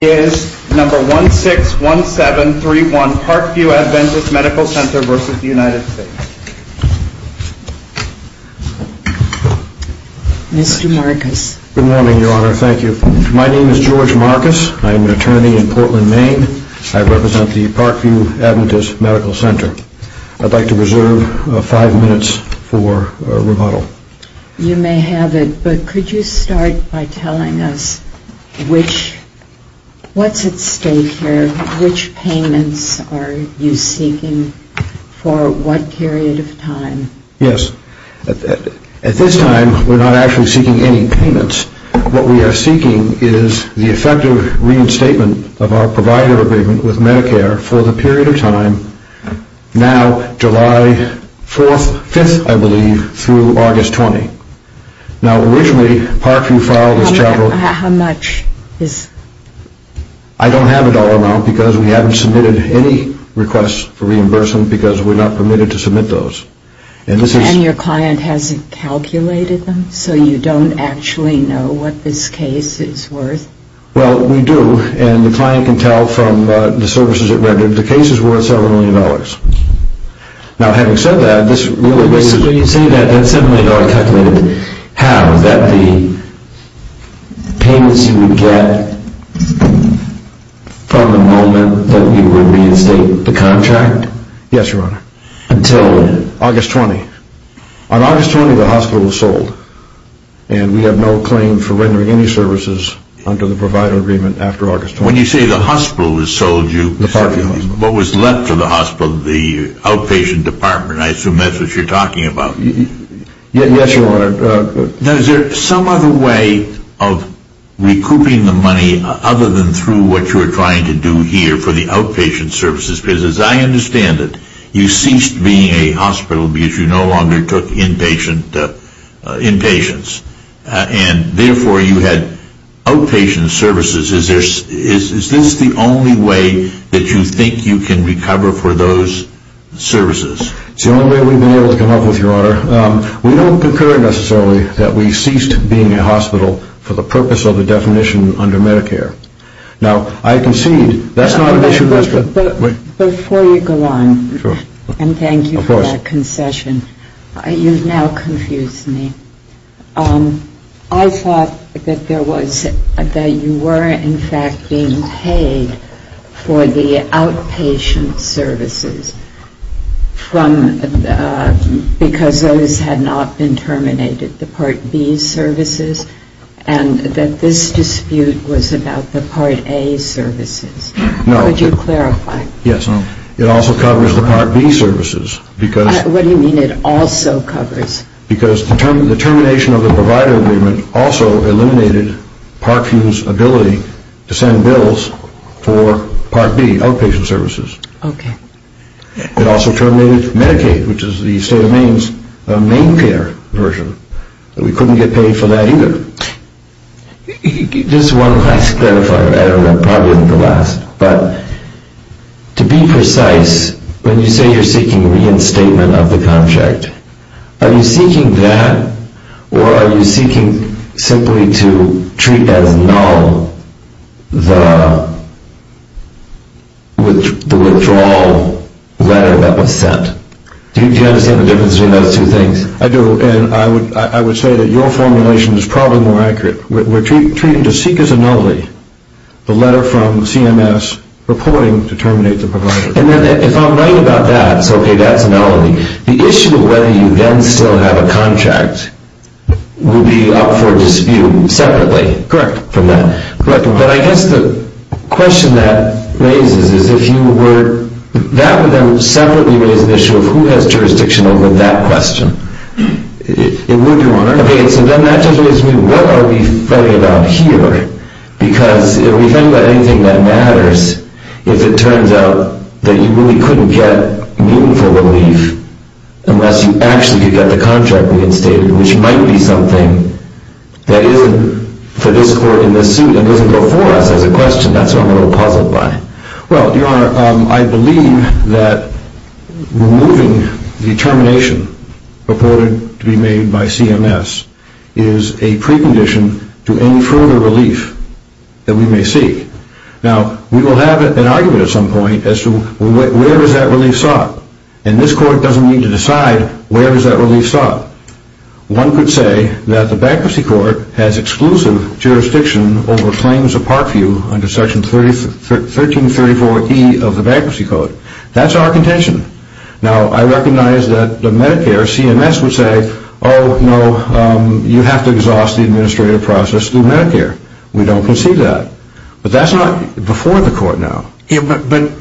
My name is George Marcus. I am an attorney in Portland, Maine. I represent the Parkview Adventist Medical Center. I'd like to reserve five minutes for rebuttal. You may have it, but could you start by telling us which, what's at stake here, which payments are you seeking for what period of time? Yes. At this time, we're not actually seeking any payments. What we are seeking is the effective reinstatement of our provider agreement with Medicare for the period of time now, July 4th, 5th, I believe, through August 20th. Now, originally, Parkview filed this chattel... How much is... I don't have it all around because we haven't submitted any requests for reimbursement because we're not permitted to submit those. And your client hasn't calculated them, so you don't actually know what this case is worth? Well, we do, and the client can tell from the services it rendered the case is worth several million dollars. Now, having said that, this really... So you're saying that seven million dollars calculated, how, that the payments you would get from the moment that you would reinstate the contract? Yes, Your Honor. Until when? August 20th. On August 20th, the hospital was sold, and we have no claim for rendering any services under the provider agreement after August 20th. When you say the hospital has sold you... The Parkview Hospital. What was left of the hospital, the outpatient department, I assume that's what you're talking about. Yes, Your Honor. Now, is there some other way of recouping the money other than through what you're trying to do here for the outpatient services? Because as I understand it, you ceased being a hospital because you no longer took inpatients. And therefore, you had outpatient services. Is this the only way that you think you can recover for those services? It's the only way we've been able to come up with, Your Honor. We don't concur necessarily that we ceased being a hospital for the purpose of the definition under Medicare. Now, I concede that's not an issue... Before you go on, and thank you for that concession, you've now confused me. I thought that you were in fact being paid for the outpatient services because those had not been terminated, the Part B services, and that this dispute was about the Part A services. No. Could you clarify? Yes. It also covers the Part B services because... What do you mean it also covers? Because the termination of the provider agreement also eliminated Parkview's ability to send bills for Part B outpatient services. Okay. It also terminated Medicaid, which is the state of Maine's MaineCare version. We couldn't get paid for that either. Just one last clarifier. I don't know. It probably isn't the last. But to be precise, when you say you're seeking reinstatement of the contract, are you seeking that or are you seeking simply to treat as null the withdrawal letter that was sent? Do you understand the difference between those two things? I do, and I would say that your formulation is probably more accurate. We're treating to seek as a nullity the letter from CMS purporting to terminate the provider. If I'm right about that, so that's nullity, the issue of whether you then still have a contract would be up for dispute separately. Correct. But I guess the question that raises is if you were... That would then separately raise an issue of who has jurisdiction over that question. It would, Your Honor. Okay. So then that just raises me, what are we fighting about here? Because if we think about anything that matters, if it turns out that you really couldn't get meaningful relief unless you actually could get the contract reinstated, which might be something that isn't for this court in this suit and doesn't go for us as a question, that's what I'm a little puzzled by. Well, Your Honor, I believe that removing the termination purported to be made by CMS is a precondition to any further relief that we may seek. Now, we will have an argument at some point as to where is that relief sought? And this court doesn't need to decide where is that relief sought. One could say that the bankruptcy court has exclusive jurisdiction over claims of part view under Section 1334E of the Bankruptcy Code. That's our contention. Now, I recognize that the Medicare CMS would say, oh no, you have to exhaust the administrative process through Medicare. We don't concede that. But that's not before the court now. But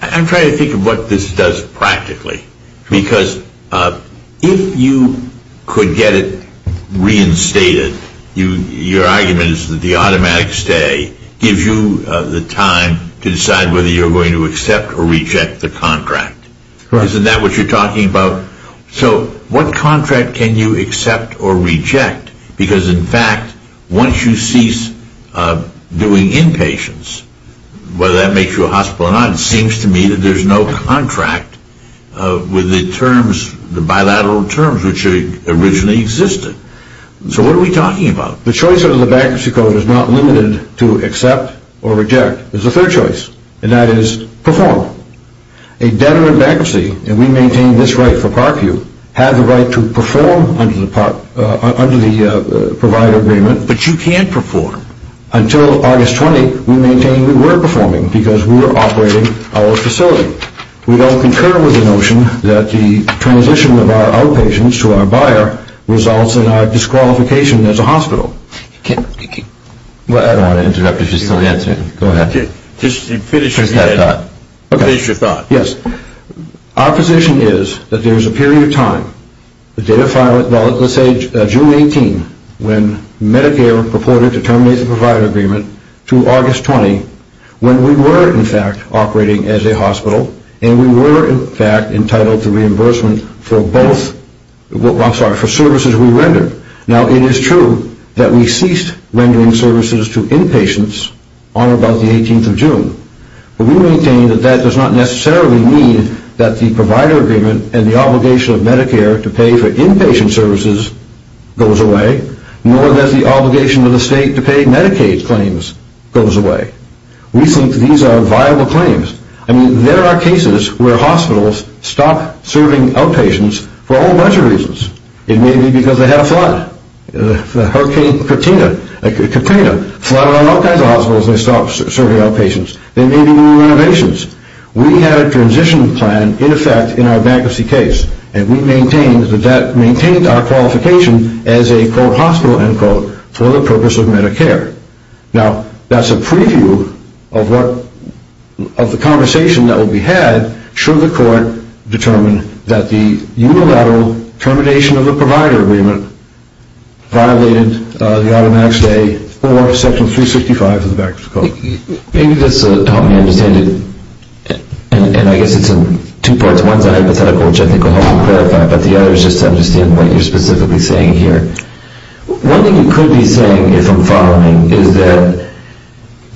I'm trying to think of what this does practically. Because if you could get it reinstated, your argument is that the automatic stay gives you the time to decide whether you're going to accept or reject the contract. Isn't that what you're talking about? So what contract can you accept or reject? Because in fact, once you cease doing inpatients, whether that makes you a hospital or not, it seems to me that there's no contract with the bilateral terms which originally existed. So what are we talking about? The choice under the Bankruptcy Code is not limited to accept or reject. There's a third choice, and that is perform. A debtor in bankruptcy, and we maintain this right for part view, has the right to perform under the provider agreement. But you can't perform. Until August 20, we maintain we were performing because we were operating our facility. We don't concur with the notion that the transition of our outpatients to our buyer results in our disqualification as a hospital. I don't want to interrupt if you're still answering. Go ahead. Finish your thought. Yes. Our position is that there's a period of time, the date of filing, let's say June 18, when Medicare purported to terminate the provider agreement to August 20, when we were, in fact, operating as a hospital, and we were, in fact, entitled to reimbursement for both, I'm sorry, for services we rendered. Now, it is true that we ceased rendering services to inpatients on about the 18th of June. But we maintain that that does not necessarily mean that the provider agreement and the obligation of Medicare to pay for inpatient services goes away, nor does the obligation of the state to pay Medicaid claims goes away. We think these are viable claims. I mean, there are cases where hospitals stop serving outpatients for a whole bunch of reasons. It may be because they had a flood. Hurricane Katrina flooded all kinds of hospitals and they stopped serving outpatients. There may be new renovations. We had a transition plan, in effect, in our bankruptcy case, and we maintained that that maintained our qualification as a, quote, hospital, end quote, for the purpose of Medicare. Now, that's a preview of the conversation that will be had should the court determine that the unilateral termination of the provider agreement violated the automatic stay for Section 365 of the Bankruptcy Code. Maybe this will help me understand it, and I guess it's in two parts. One's a hypothetical, which I think will help me clarify, but the other is just to understand what you're specifically saying here. One thing you could be saying, if I'm following, is that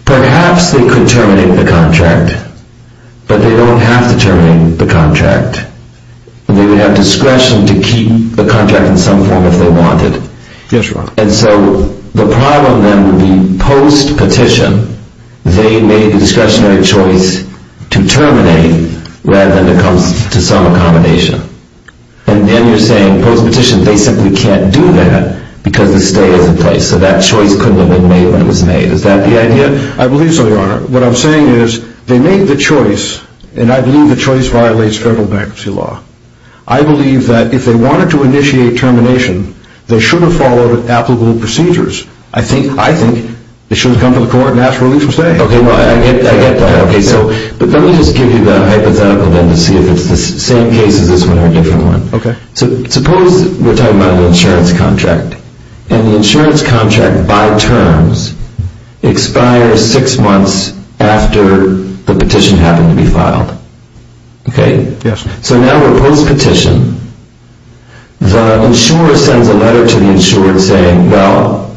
perhaps they could terminate the contract, but they don't have to terminate the contract. They would have discretion to keep the contract in some form if they wanted. Yes, Your Honor. And so the problem then would be, post-petition, they made the discretionary choice to terminate rather than to come to some accommodation. And then you're saying, post-petition, they simply can't do that because the stay is in place. So that choice couldn't have been made when it was made. Is that the idea? I believe so, Your Honor. What I'm saying is, they made the choice, and I believe the choice violates federal bankruptcy law. I believe that if they wanted to initiate termination, they should have followed applicable procedures. I think they should have come to the court and asked for a release from stay. Okay, I get that. But let me just give you the hypothetical then to see if it's the same case as this one or a different one. Suppose we're talking about an insurance contract, and the insurance contract, by terms, expires six months after the petition happened to be filed. Okay? Yes. So now we're post-petition. The insurer sends a letter to the insurer saying, well,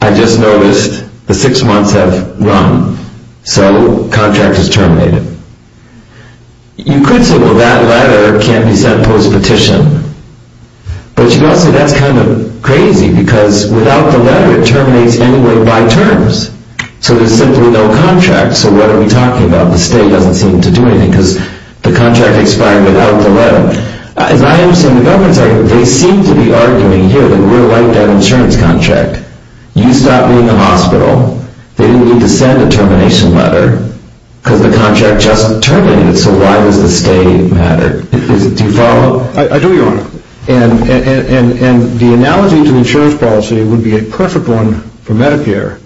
I just noticed the six months have run. So contract is terminated. You could say, well, that letter can't be sent post-petition. But you've got to say, that's kind of crazy because without the letter, it terminates anyway by terms. So there's simply no contract. So what are we talking about? The stay doesn't seem to do anything because the contract expired without the letter. As I understand the government's argument, they seem to be arguing here that we're like that insurance contract. You stop being a hospital. They didn't need to send a termination letter because the contract just terminated. So why does the stay matter? Do you follow? I do, Your Honor. And the analogy to the insurance policy would be a perfect one for Medicare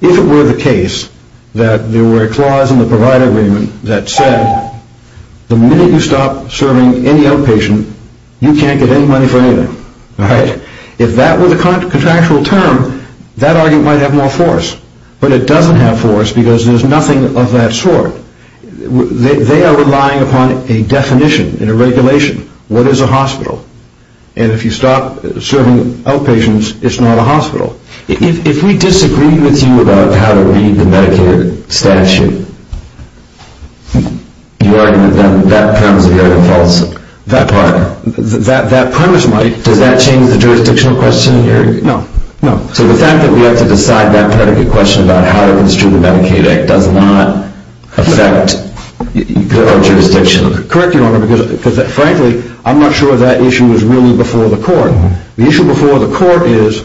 if it were the case that there were a clause in the provider agreement that said, the minute you stop serving any outpatient, you can't get any money for anything. If that were the contractual term, that argument might have more force. But it doesn't have force because there's nothing of that sort. They are relying upon a definition and a regulation. What is a hospital? And if you stop serving outpatients, it's not a hospital. If we disagreed with you about how to read the Medicare statute, your argument then, that premise of the argument falls apart. That premise might. Does that change the jurisdictional question in your argument? No, no. So the fact that we have to decide that predicate question about how to construe the Medicaid Act does not affect our jurisdiction? Correct, Your Honor, because frankly, I'm not sure if that issue was really before the court. The issue before the court is,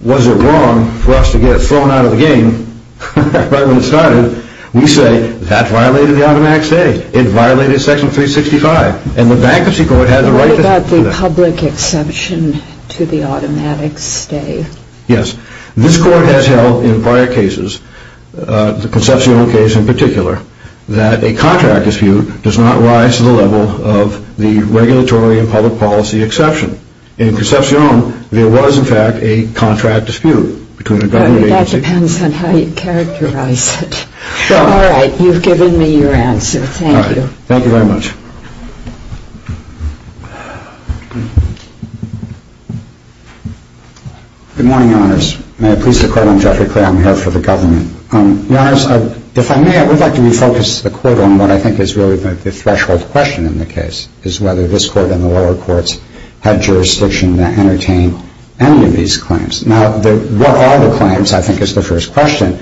was it wrong for us to get it thrown out of the game right when it started? We say, that violated the automatic stay. It violated section 365. And the bankruptcy court had the right to do that. What about the public exception to the automatic stay? Yes, this court has held in prior cases, the Concepcion case in particular, that a contract dispute does not rise to the level of the regulatory and public policy exception. In Concepcion, there was in fact a contract dispute between a government agency... That depends on how you characterize it. All right, you've given me your answer. Thank you. Thank you very much. Good morning, Your Honors. May I please have a quote on Jeffrey Clay? I'm here for the government. Your Honors, if I may, I would like to refocus the quote on what I think is really the threshold question in the case, is whether this court and the lower courts had jurisdiction to entertain any of these claims. Now, what are the claims, I think, is the first question.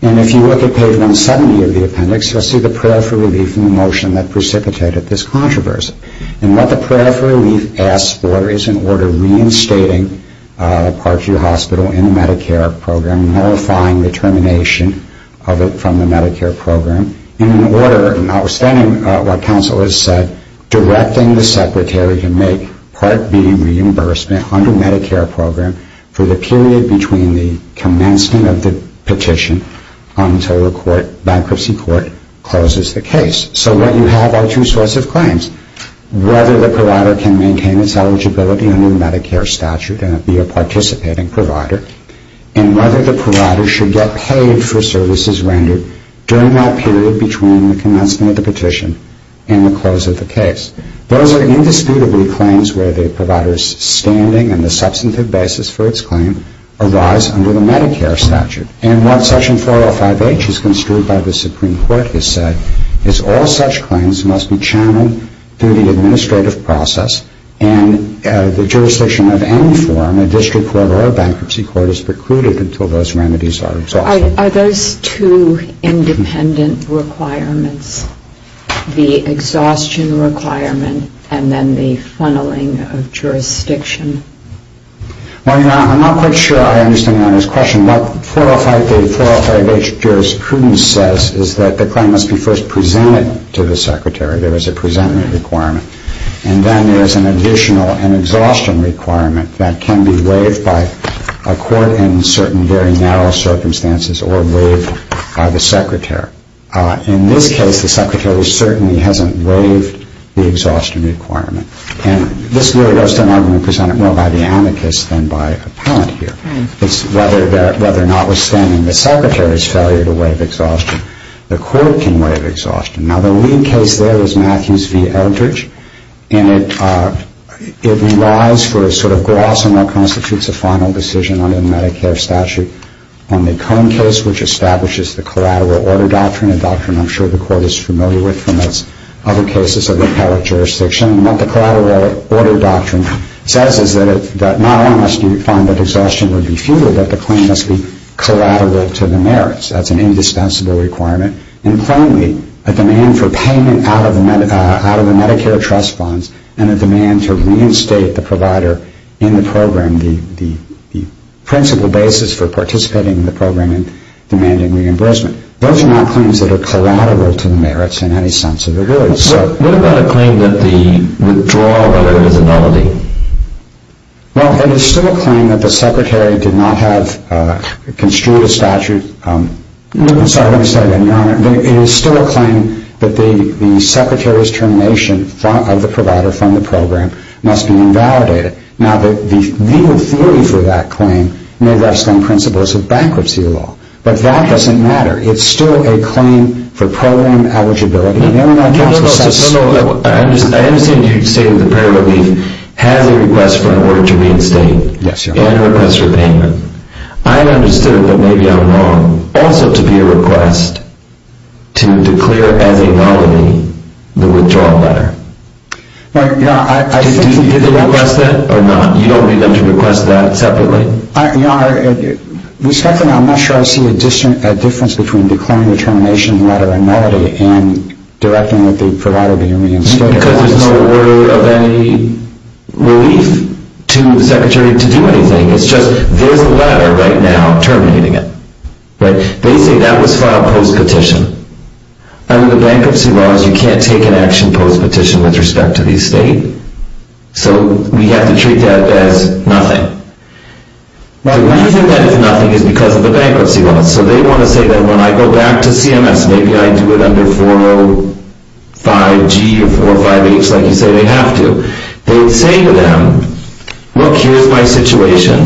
And if you look at page 170 of the appendix, you'll see the prayer for relief in the motion that precipitated this controversy. And what the prayer for relief asks for is an order reinstating the Parkview Hospital in the Medicare program, nullifying the termination of it from the Medicare program, and an order, notwithstanding what counsel has said, directing the Secretary to make Part B reimbursement under the Medicare program for the period between the commencement of the petition until the bankruptcy court closes the case. So what you have are two sorts of claims, whether the provider can maintain its eligibility under the Medicare statute and be a participating provider, and whether the provider should get paid for services rendered during that period between the commencement of the petition and the close of the case. Those are indisputably claims where the provider's standing and the substantive basis for its claim arise under the Medicare statute. And what Section 405H is construed by the Supreme Court has said is all such claims must be channeled through the administrative process and the jurisdiction of any forum, a district court or a bankruptcy court, is precluded until those remedies are exhausted. Are those two independent requirements, the exhaustion requirement and then the funneling of jurisdiction? Well, Your Honor, I'm not quite sure I understand Your Honor's question. What 405H jurisprudence says is that the claim must be first presented to the Secretary. There is a presentment requirement. And then there's an additional, an exhaustion requirement that can be waived by a court in certain very narrow circumstances or waived by the Secretary. In this case, the Secretary certainly hasn't waived the exhaustion requirement. And this really goes to an argument presented more by the amicus than by appellant here. It's whether or not, withstanding the Secretary's failure to waive exhaustion, the court can waive exhaustion. Now, the lead case there is Matthews v. Eldridge. And it relies for a sort of gloss on what constitutes a final decision under the Medicare statute on the Cohen case, which establishes the collateral order doctrine, a doctrine I'm sure the court is familiar with from its other cases of appellate jurisdiction. And what the collateral order doctrine says is that not only must you find that exhaustion would be fewer, but the claim must be collateral to the merits. That's an indispensable requirement. And finally, a demand for payment out of the Medicare trust funds, and a demand to reinstate the provider in the program, the principal basis for participating in the program and demanding reimbursement. Those are not claims that are collateral to the merits in any sense of the word. What about a claim that the withdrawal order is a nullity? Well, it is still a claim that the Secretary did not have construed a statute. Sorry to say that, Your Honor. It is still a claim that the Secretary's termination of the provider from the program must be invalidated. Now, the legal theory for that claim may rest on principles of bankruptcy law. But that doesn't matter. It's still a claim for program eligibility. No, no, no. I understand you say that the prayer relief has a request for an order to reinstate and a request for payment. I understood, but maybe I'm wrong, also to be a request to declare as a nullity the withdrawal letter. Well, Your Honor, I think... Did you request that or not? You don't need them to request that separately? Your Honor, respectfully, I'm not sure I see a difference between declaring the termination letter a nullity and directing that the provider be reinstated. Because there's no order of any relief to the Secretary to do anything. It's just there's a letter right now terminating it. They say that was filed post-petition. Under the bankruptcy laws, you can't take an action post-petition with respect to the estate. So we have to treat that as nothing. The reason that it's nothing is because of the bankruptcy laws. So they want to say that when I go back to CMS, maybe I do it under 405G or 405H, like you say, they have to. They say to them, look, here's my situation.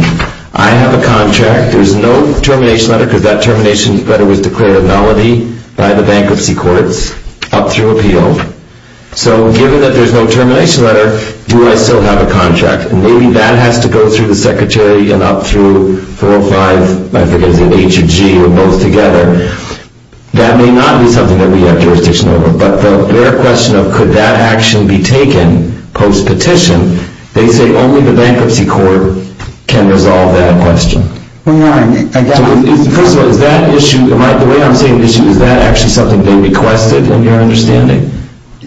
I have a contract. There's no termination letter because that termination letter was declared a nullity by the bankruptcy courts up through appeal. So given that there's no termination letter, do I still have a contract? Maybe that has to go through the Secretary and up through 405, I forget, is it H or G or both together. That may not be something that we have jurisdiction over. But their question of could that action be taken post-petition, they say only the bankruptcy court can resolve that question. First of all, is that issue, the way I'm seeing the issue, is that actually something they requested in your understanding?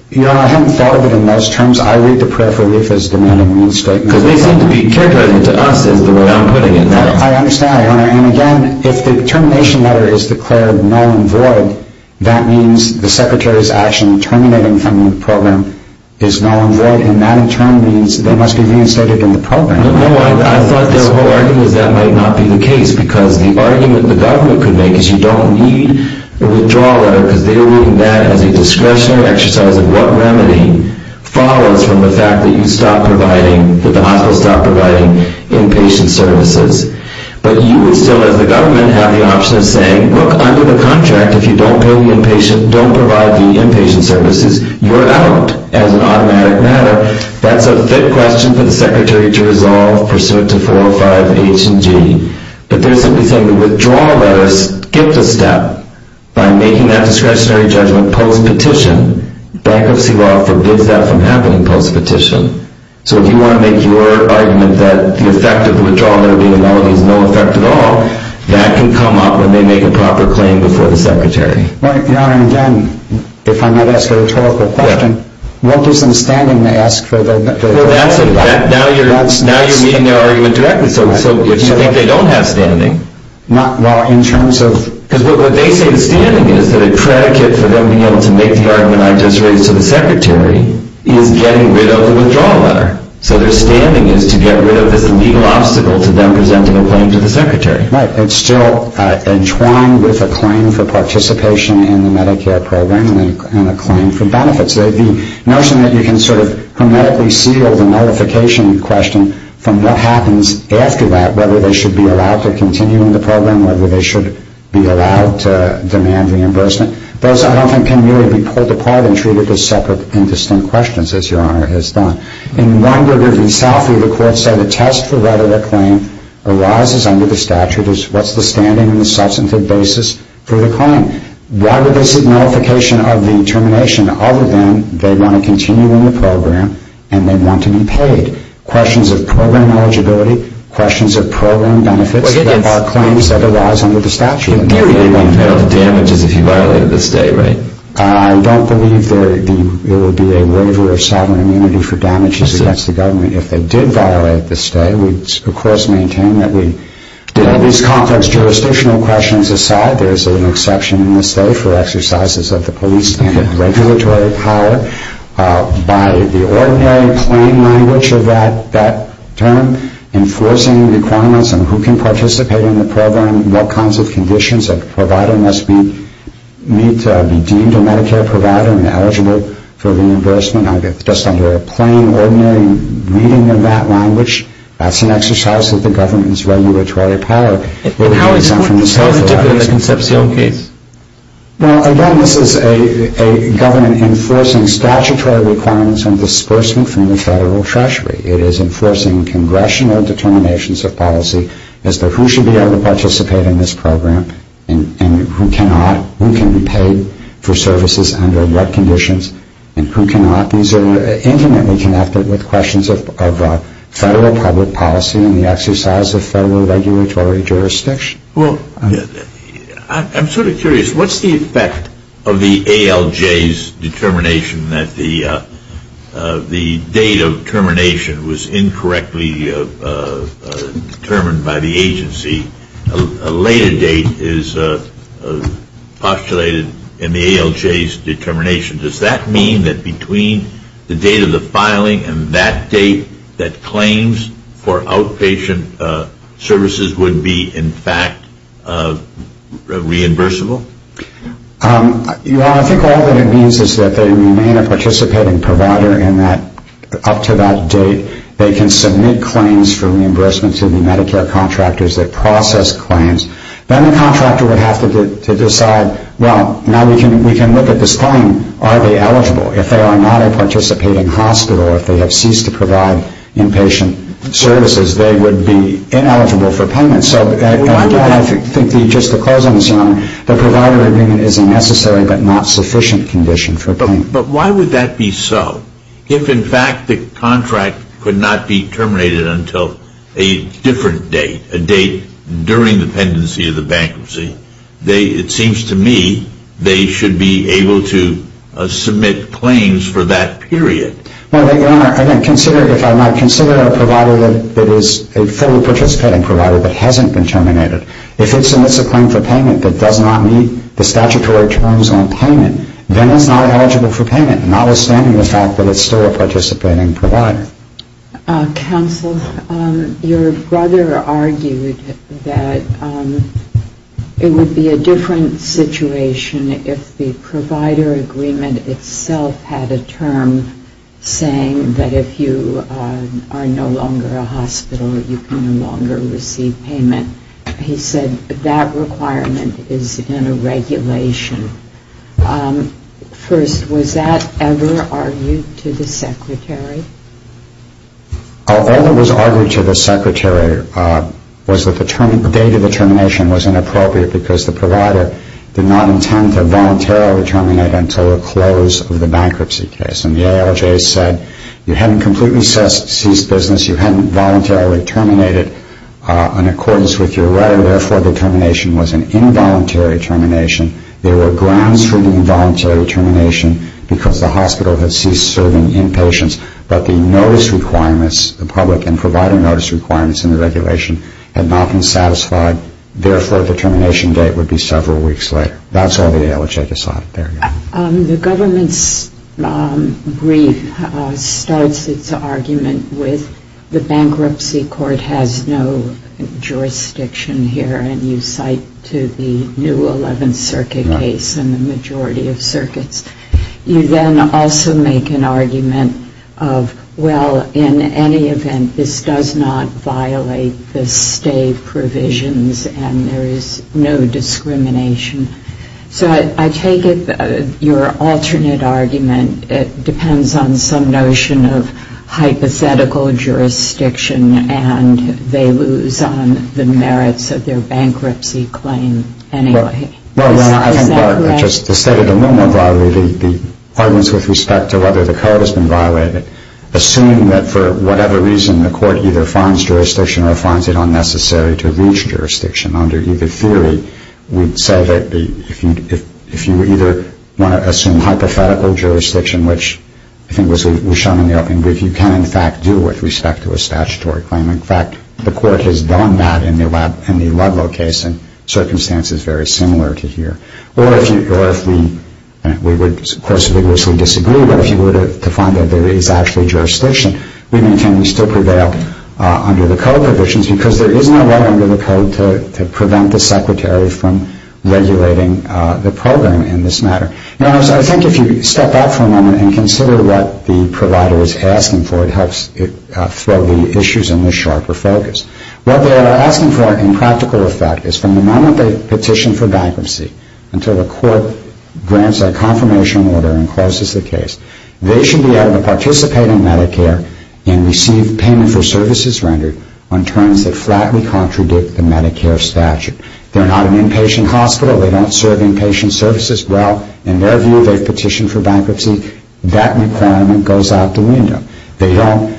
I haven't thought of it in those terms. I read the prayer for relief because they seem to be characterizing it to us is the way I'm putting it. I understand. And again, if the termination letter is declared null and void, that means the Secretary's action terminating from the program is null and void, and that in turn means they must be reinstated in the program. No, I thought their whole argument is that might not be the case because the argument the government could make is you don't need a withdrawal letter because they are reading that as a discretionary exercise of what remedy follows from the fact that you stop providing, that the hospital stop providing inpatient services. But you would still, as the government, have the option of saying, look, under the contract, if you don't pay the inpatient, don't provide the inpatient services, you're out as an automatic matter. That's a fit question for the Secretary to resolve pursuant to 405 H and G. But they're simply saying the withdrawal letter skipped a step by making that discretionary judgment post-petition. Bankruptcy law forbids that from happening post-petition. So if you want to make your argument that the effect of the withdrawal letter being null and void is no effect at all, that can come up when they make a proper claim before the Secretary. Right, Your Honor, and again, if I might ask a rhetorical question, what gives them standing to ask for the withdrawal letter? Now you're meeting their argument directly. So if you think they don't have standing... Well, in terms of... Because what they say is standing is that a predicate for them being able to make the argument I just raised to the Secretary is getting rid of the withdrawal letter. So their standing is to get rid of this legal obstacle to them presenting a claim to the Secretary. Right, it's still entwined with a claim for participation in the Medicare program and a claim for benefits. The notion that you can sort of hermetically seal the nullification question from what happens after that, whether they should be allowed to continue in the program, whether they should be allowed to demand reimbursement, those I don't think can really be pulled apart and treated as separate and distinct questions as Your Honor has done. In one regard, in Southview, the court said a test for whether a claim arises under the statute is what's the standing and the substantive basis for the claim. Why would this nullification of the termination other than they want to continue in the program and they want to be paid? Questions of program eligibility, questions of program benefits that are claims that arise under the statute. In theory, they won't have damages if you violated the stay, right? I don't believe there would be a waiver of sovereign immunity for damages against the government if they did violate the stay. These complex jurisdictional questions aside, there's an exception in the state for exercises of the police and regulatory power. By the ordinary plain language of that term, enforcing requirements on who can participate in the program, what kinds of conditions a provider must meet to be deemed a Medicare provider and eligible for reimbursement. Just under a plain, ordinary reading of that language, that's an exercise of the government's regulatory power. And how important is that in the conceptual case? Well, again, this is a government enforcing statutory requirements on disbursement from the federal treasury. It is enforcing congressional determinations of policy as to who should be able to participate in this program and who cannot. Who can be paid for services under what conditions and who cannot. These are intimately connected with questions of federal public policy and the exercise of federal regulatory jurisdiction. Well, I'm sort of curious. What's the effect of the ALJ's determination that the date of termination was incorrectly determined by the agency? A later date is postulated in the ALJ's determination. Does that mean that between the date of the filing and that date that claims for outpatient services would be, in fact, reimbursable? I think all that it means is that they remain a participating provider and that up to that date they can submit claims for reimbursement to the Medicare contractors that process claims. Then the contractor would have to decide well, now we can look at this claim. Are they eligible? If they are not a participating hospital or if they have ceased to provide inpatient services they would be ineligible for payment. Just to close on this, Your Honor, the provider agreement is a necessary but not sufficient condition for payment. But why would that be so? If, in fact, the contract could not be terminated until a different date, a date during the pendency of the bankruptcy, it seems to me they should be able to submit claims for that period. Well, Your Honor, if I might consider a provider that is a fully participating provider that hasn't been terminated, if it submits a claim for payment that does not meet the statutory terms then it's not eligible for payment notwithstanding the fact that it's still a participating provider. Counsel, your brother argued that it would be a different situation if the provider agreement itself had a term saying that if you are no longer a hospital you can no longer receive payment. He said that requirement is in a regulation First, was that ever argued to the Secretary? All that was argued to the Secretary was that the date of the termination was inappropriate because the provider did not intend to voluntarily terminate until the close of the bankruptcy case. And the ALJ said you haven't completely ceased business, you haven't voluntarily terminated in accordance with your right and therefore the termination was an involuntary termination there were grounds for the involuntary termination because the hospital has ceased serving inpatients but the notice requirements the public and provider notice requirements in the regulation had not been satisfied therefore the termination date would be several weeks later. That's all the ALJ decided. The government's brief starts its argument with the bankruptcy court has no jurisdiction and you cite to the new 11th circuit case and the majority of circuits you then also make an argument of well in any event this does not violate the state provisions and there is no discrimination so I take it your alternate argument depends on some notion of hypothetical jurisdiction and they lose on the merits of their bankruptcy claim anyway. Is that correct? The state of the moment the arguments with respect to whether the code has been violated assume that for whatever reason the court either finds jurisdiction or finds it unnecessary to reach jurisdiction under either theory we'd say that if you either want to assume hypothetical jurisdiction which I think was shown in the opening brief you can in fact do with respect to a statutory claim in fact the court has done that in the Ludlow case in circumstances very similar to here or if we we would of course vigorously disagree but if you were to find that there is actually jurisdiction we maintain we still prevail under the code provisions because there is no law under the code to prevent the secretary from regulating the program in this matter. Now I think if you step out for a moment and consider what the provider is asking for it helps throw the issues in a sharper focus. What they are asking for in practical effect is from the moment they petition for bankruptcy until the court grants a confirmation order and closes the case they should be able to participate in Medicare and receive payment for services rendered on terms that flatly contradict the Medicare statute. They're not an inpatient hospital they don't serve inpatient services well in their view they've petitioned for bankruptcy that requirement goes out the window they don't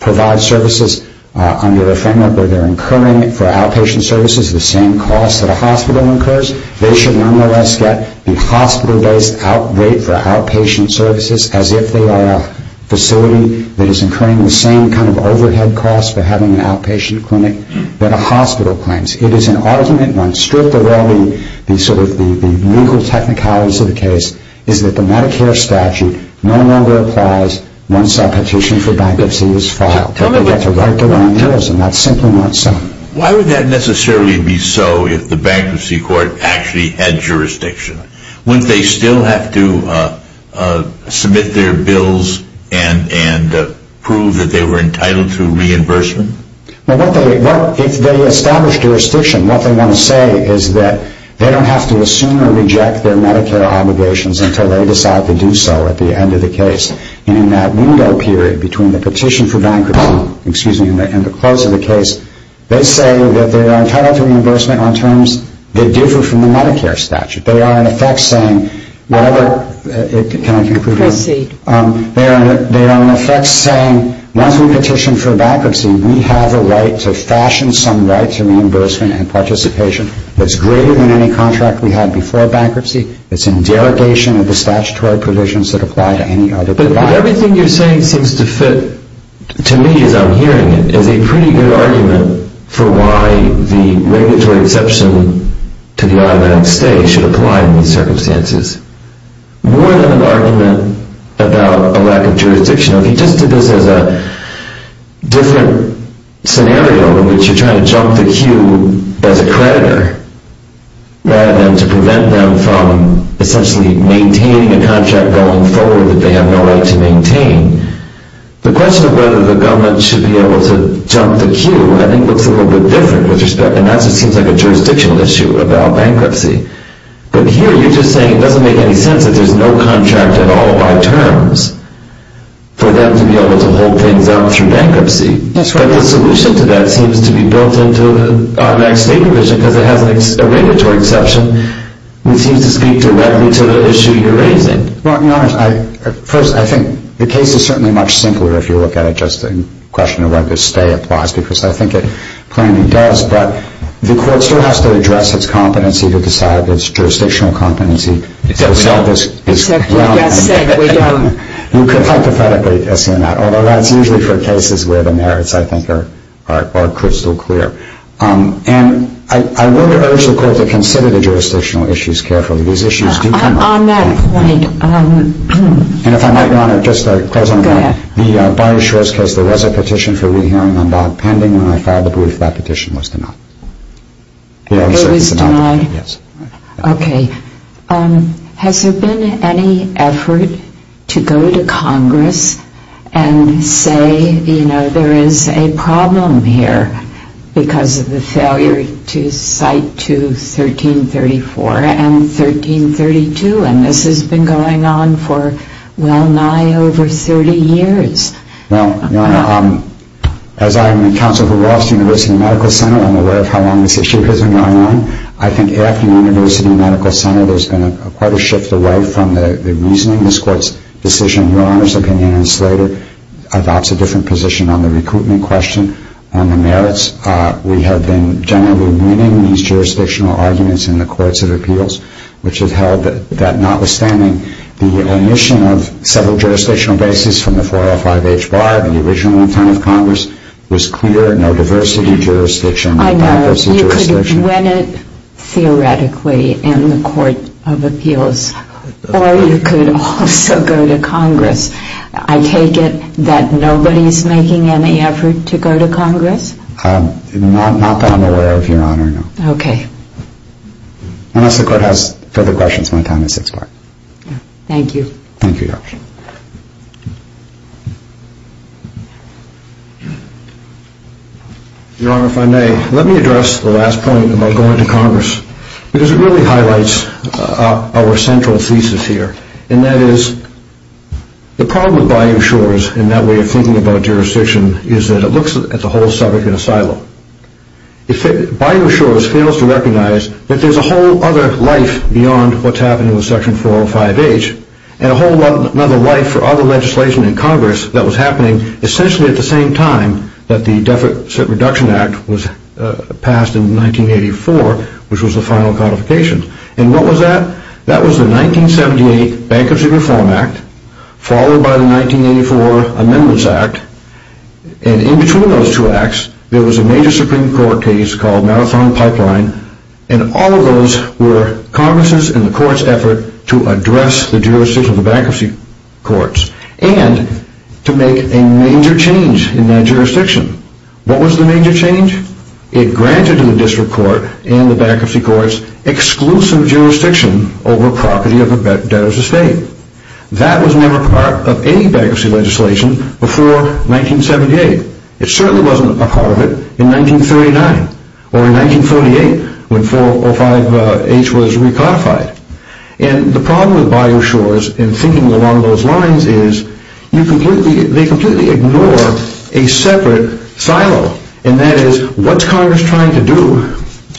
provide services under a framework where they're incurring for outpatient services the same cost that a hospital incurs they should nonetheless get the hospital based rate for outpatient services as if they are a facility that is incurring the same kind of overhead cost for having an outpatient clinic that a hospital claims. The legal technicalities of the case is that the Medicare statute no longer applies once a petition for bankruptcy is filed they get to write their own bills and that's simply not so. Why would that necessarily be so if the bankruptcy court actually had jurisdiction? Wouldn't they still have to submit their bills and prove that they were entitled to reimbursement? If they establish jurisdiction what they want to say is that they don't have to assume or reject their Medicare obligations until they decide to do so at the end of the case and in that window period between the petition for bankruptcy and the close of the case they say that they are entitled to reimbursement on terms that differ from the Medicare statute they are in effect saying whatever they are in effect saying once we petition for bankruptcy we have a right to fashion some right to reimbursement and participation that's greater than any contract we had before bankruptcy it's in derogation of the statutory provisions that apply to any other provider. But everything you're saying seems to fit to me as I'm hearing it is a pretty good argument for why the regulatory exception to the automatic stay should apply in these circumstances more than an argument about a lack of jurisdiction if you just did this as a different scenario in which you're trying to jump the queue as a creditor rather than to prevent them from essentially maintaining a contract going forward that they have no right to maintain the question of whether the government should be able to jump the queue I think looks a little bit different and that seems like a jurisdictional issue about bankruptcy but here you're just saying it doesn't make any sense that there's no contract at all by terms for them to be able to hold things down through bankruptcy but the solution to that seems to be built into the automatic stay provision because it has a regulatory exception which seems to speak directly to the issue you're raising I think the case is certainly much simpler if you look at it just in question of whether stay applies because I think it plainly does but the court still has to address its competency to decide its jurisdictional competency to sell this ground you could hypothetically assume that although that's usually for cases where the merits I think are crystal clear and I would urge the court to consider the jurisdictional issues carefully these issues do come up on that point and if I might your honor just to close on that the Barney Shores case there was a petition for re-hearing on that pending when I filed the brief that petition was denied it was denied okay has there been any effort to go to congress and say there is a problem here because of the failure to cite to 1334 and 1332 and this has been going on for well nigh over 30 years well your honor as I'm a counsel for the university medical center I'm aware of how long this issue has been going on I think after the university medical center there's been quite a shift away from the reasoning this court's decision your honor's opinion and Slater that's a different position on the recruitment question on the merits we have been generally winning these jurisdictional arguments in the courts of appeals which has held that notwithstanding the omission of several jurisdictional bases from the 405H bar the original intent of congress was clear no diversity jurisdiction I know you could win it theoretically in the court of appeals or you could also go to congress I take it that nobody is making any effort to go to congress not that I'm aware of your honor okay unless the court has further questions my time has expired thank you your honor if I may let me address the last point about going to congress because it really highlights our central thesis here and that is the problem with Bayou Shores in that way of thinking about jurisdiction is that it looks at the whole subject in a silo Bayou Shores fails to recognize that there's a whole other life beyond what's happening with section 405H and a whole other life for other legislation in congress that was happening essentially at the same time that the Deficit Reduction Act was passed in 1984 which was the final codification and what was that? that was the 1978 Bankruptcy Reform Act followed by the 1984 Amendments Act and in between those two acts there was a major supreme court case called Marathon Pipeline and all of those were congress's and the courts effort to address the jurisdiction of the bankruptcy courts and to make a major change in that jurisdiction what was the major change? it granted to the district court and the bankruptcy courts exclusive jurisdiction over property of a debtor's estate that was never part of any bankruptcy legislation before 1978 it certainly wasn't a part of it in 1939 or in 1948 when 405H was recodified and the problem with Bioshores and thinking along those lines is they completely ignore a separate silo and that is what's congress trying to do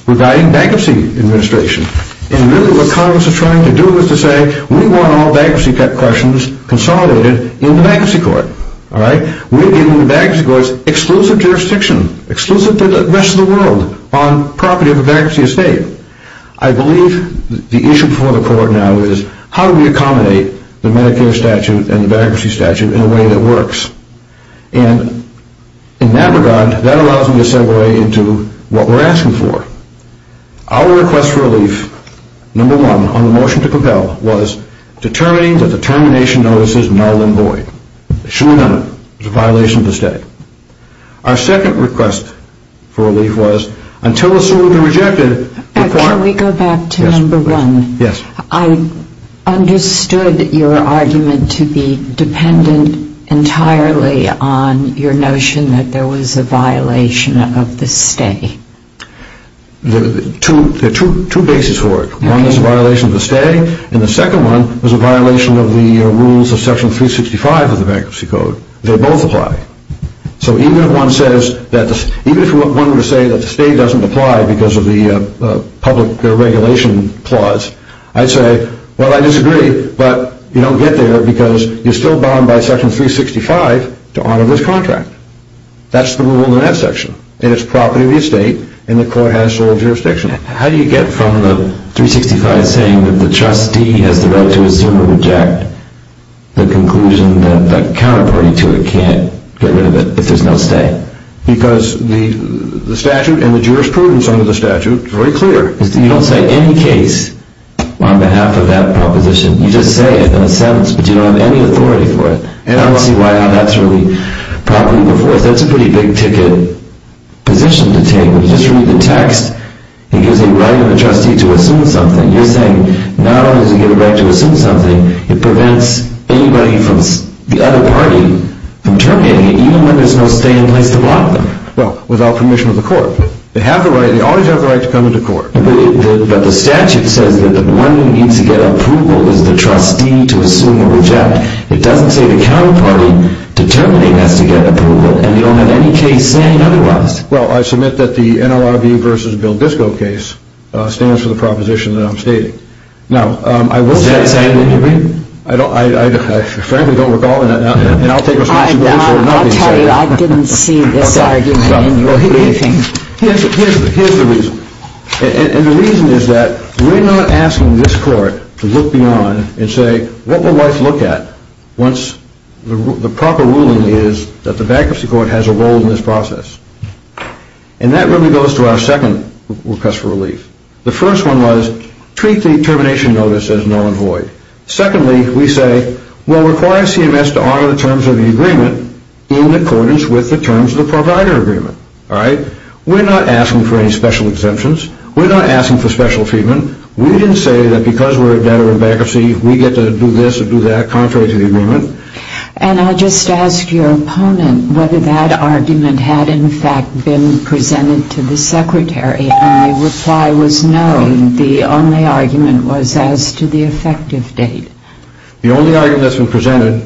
regarding bankruptcy administration and really what congress is trying to do is to say we want all bankruptcy questions consolidated in the bankruptcy court we're giving the bankruptcy courts exclusive jurisdiction exclusive to the rest of the world on property of a bankruptcy estate I believe the issue before the court now is how do we accommodate the Medicare statute and the bankruptcy statute in a way that works and in that regard that allows me to segue into what we're asking for our request for relief number one on the motion to compel was determining that the termination notice is null and void it should not be, it's a violation of the statute our second request for relief was until assumed and rejected can we go back to number one I understood your argument to be dependent entirely on your notion that there was a violation of the stay there are two bases for it one is a violation of the stay and the second one is a violation of the rules of section 365 of the bankruptcy code they both apply so even if one says even if one were to say that the stay doesn't apply because of the public regulation clause I'd say well I disagree but you don't get there because you're still bound by section 365 to honor this contract that's the rule in that section and it's property of the estate and the court has sole jurisdiction how do you get from the 365 saying that the trustee has the right to assume or reject the conclusion that the counterparty to it can't get rid of it if there's no stay because the statute and the jurisprudence under the statute is very clear you don't say any case on behalf of that proposition you just say it in a sentence but you don't have any authority for it and I don't see why that's really properly enforced that's a pretty big ticket position to take when you just read the text it gives a right of the trustee to assume something you're saying not only does it give a right to assume something it prevents anybody from the other party from terminating it even when there's no stay in place to block them well without permission of the court they always have the right to come into court but the statute says that the one who needs to get approval is the trustee to assume or reject it doesn't say the counterparty determining has to get approval and you don't have any case saying otherwise well I submit that the NLRB vs. Bill Disko case stands for the proposition that I'm stating is that saying in your reading? I frankly don't recall I'll tell you I didn't see this argument in your reading here's the reason and the reason is that we're not asking this court to look beyond and say what will life look at once the proper ruling is that the bankruptcy court has a role in this process and that really goes to our second request for relief the first one was treat the termination notice as null and void secondly we say well require CMS to honor the terms of the agreement in accordance with the terms of the provider agreement we're not asking for any special exemptions we're not asking for special treatment we didn't say that because we're a debtor in bankruptcy we get to do this or do that contrary to the agreement and I'll just ask your opponent whether that argument had in fact been presented to the secretary and the reply was no the only argument was as to the effective date the only argument that's been presented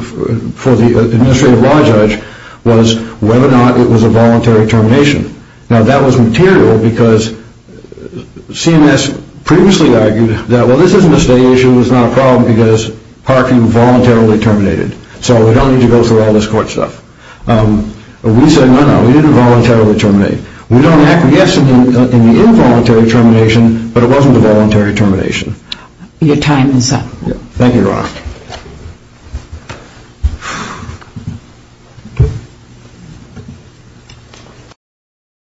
for the administrative law judge was whether or not it was a voluntary termination now that was material because CMS previously argued that well this isn't a state issue it's not a problem because parking voluntarily terminated so we don't need to go through all this court stuff we said no no we didn't voluntarily terminate we don't act yes in the involuntary termination but it wasn't a voluntary termination your time is up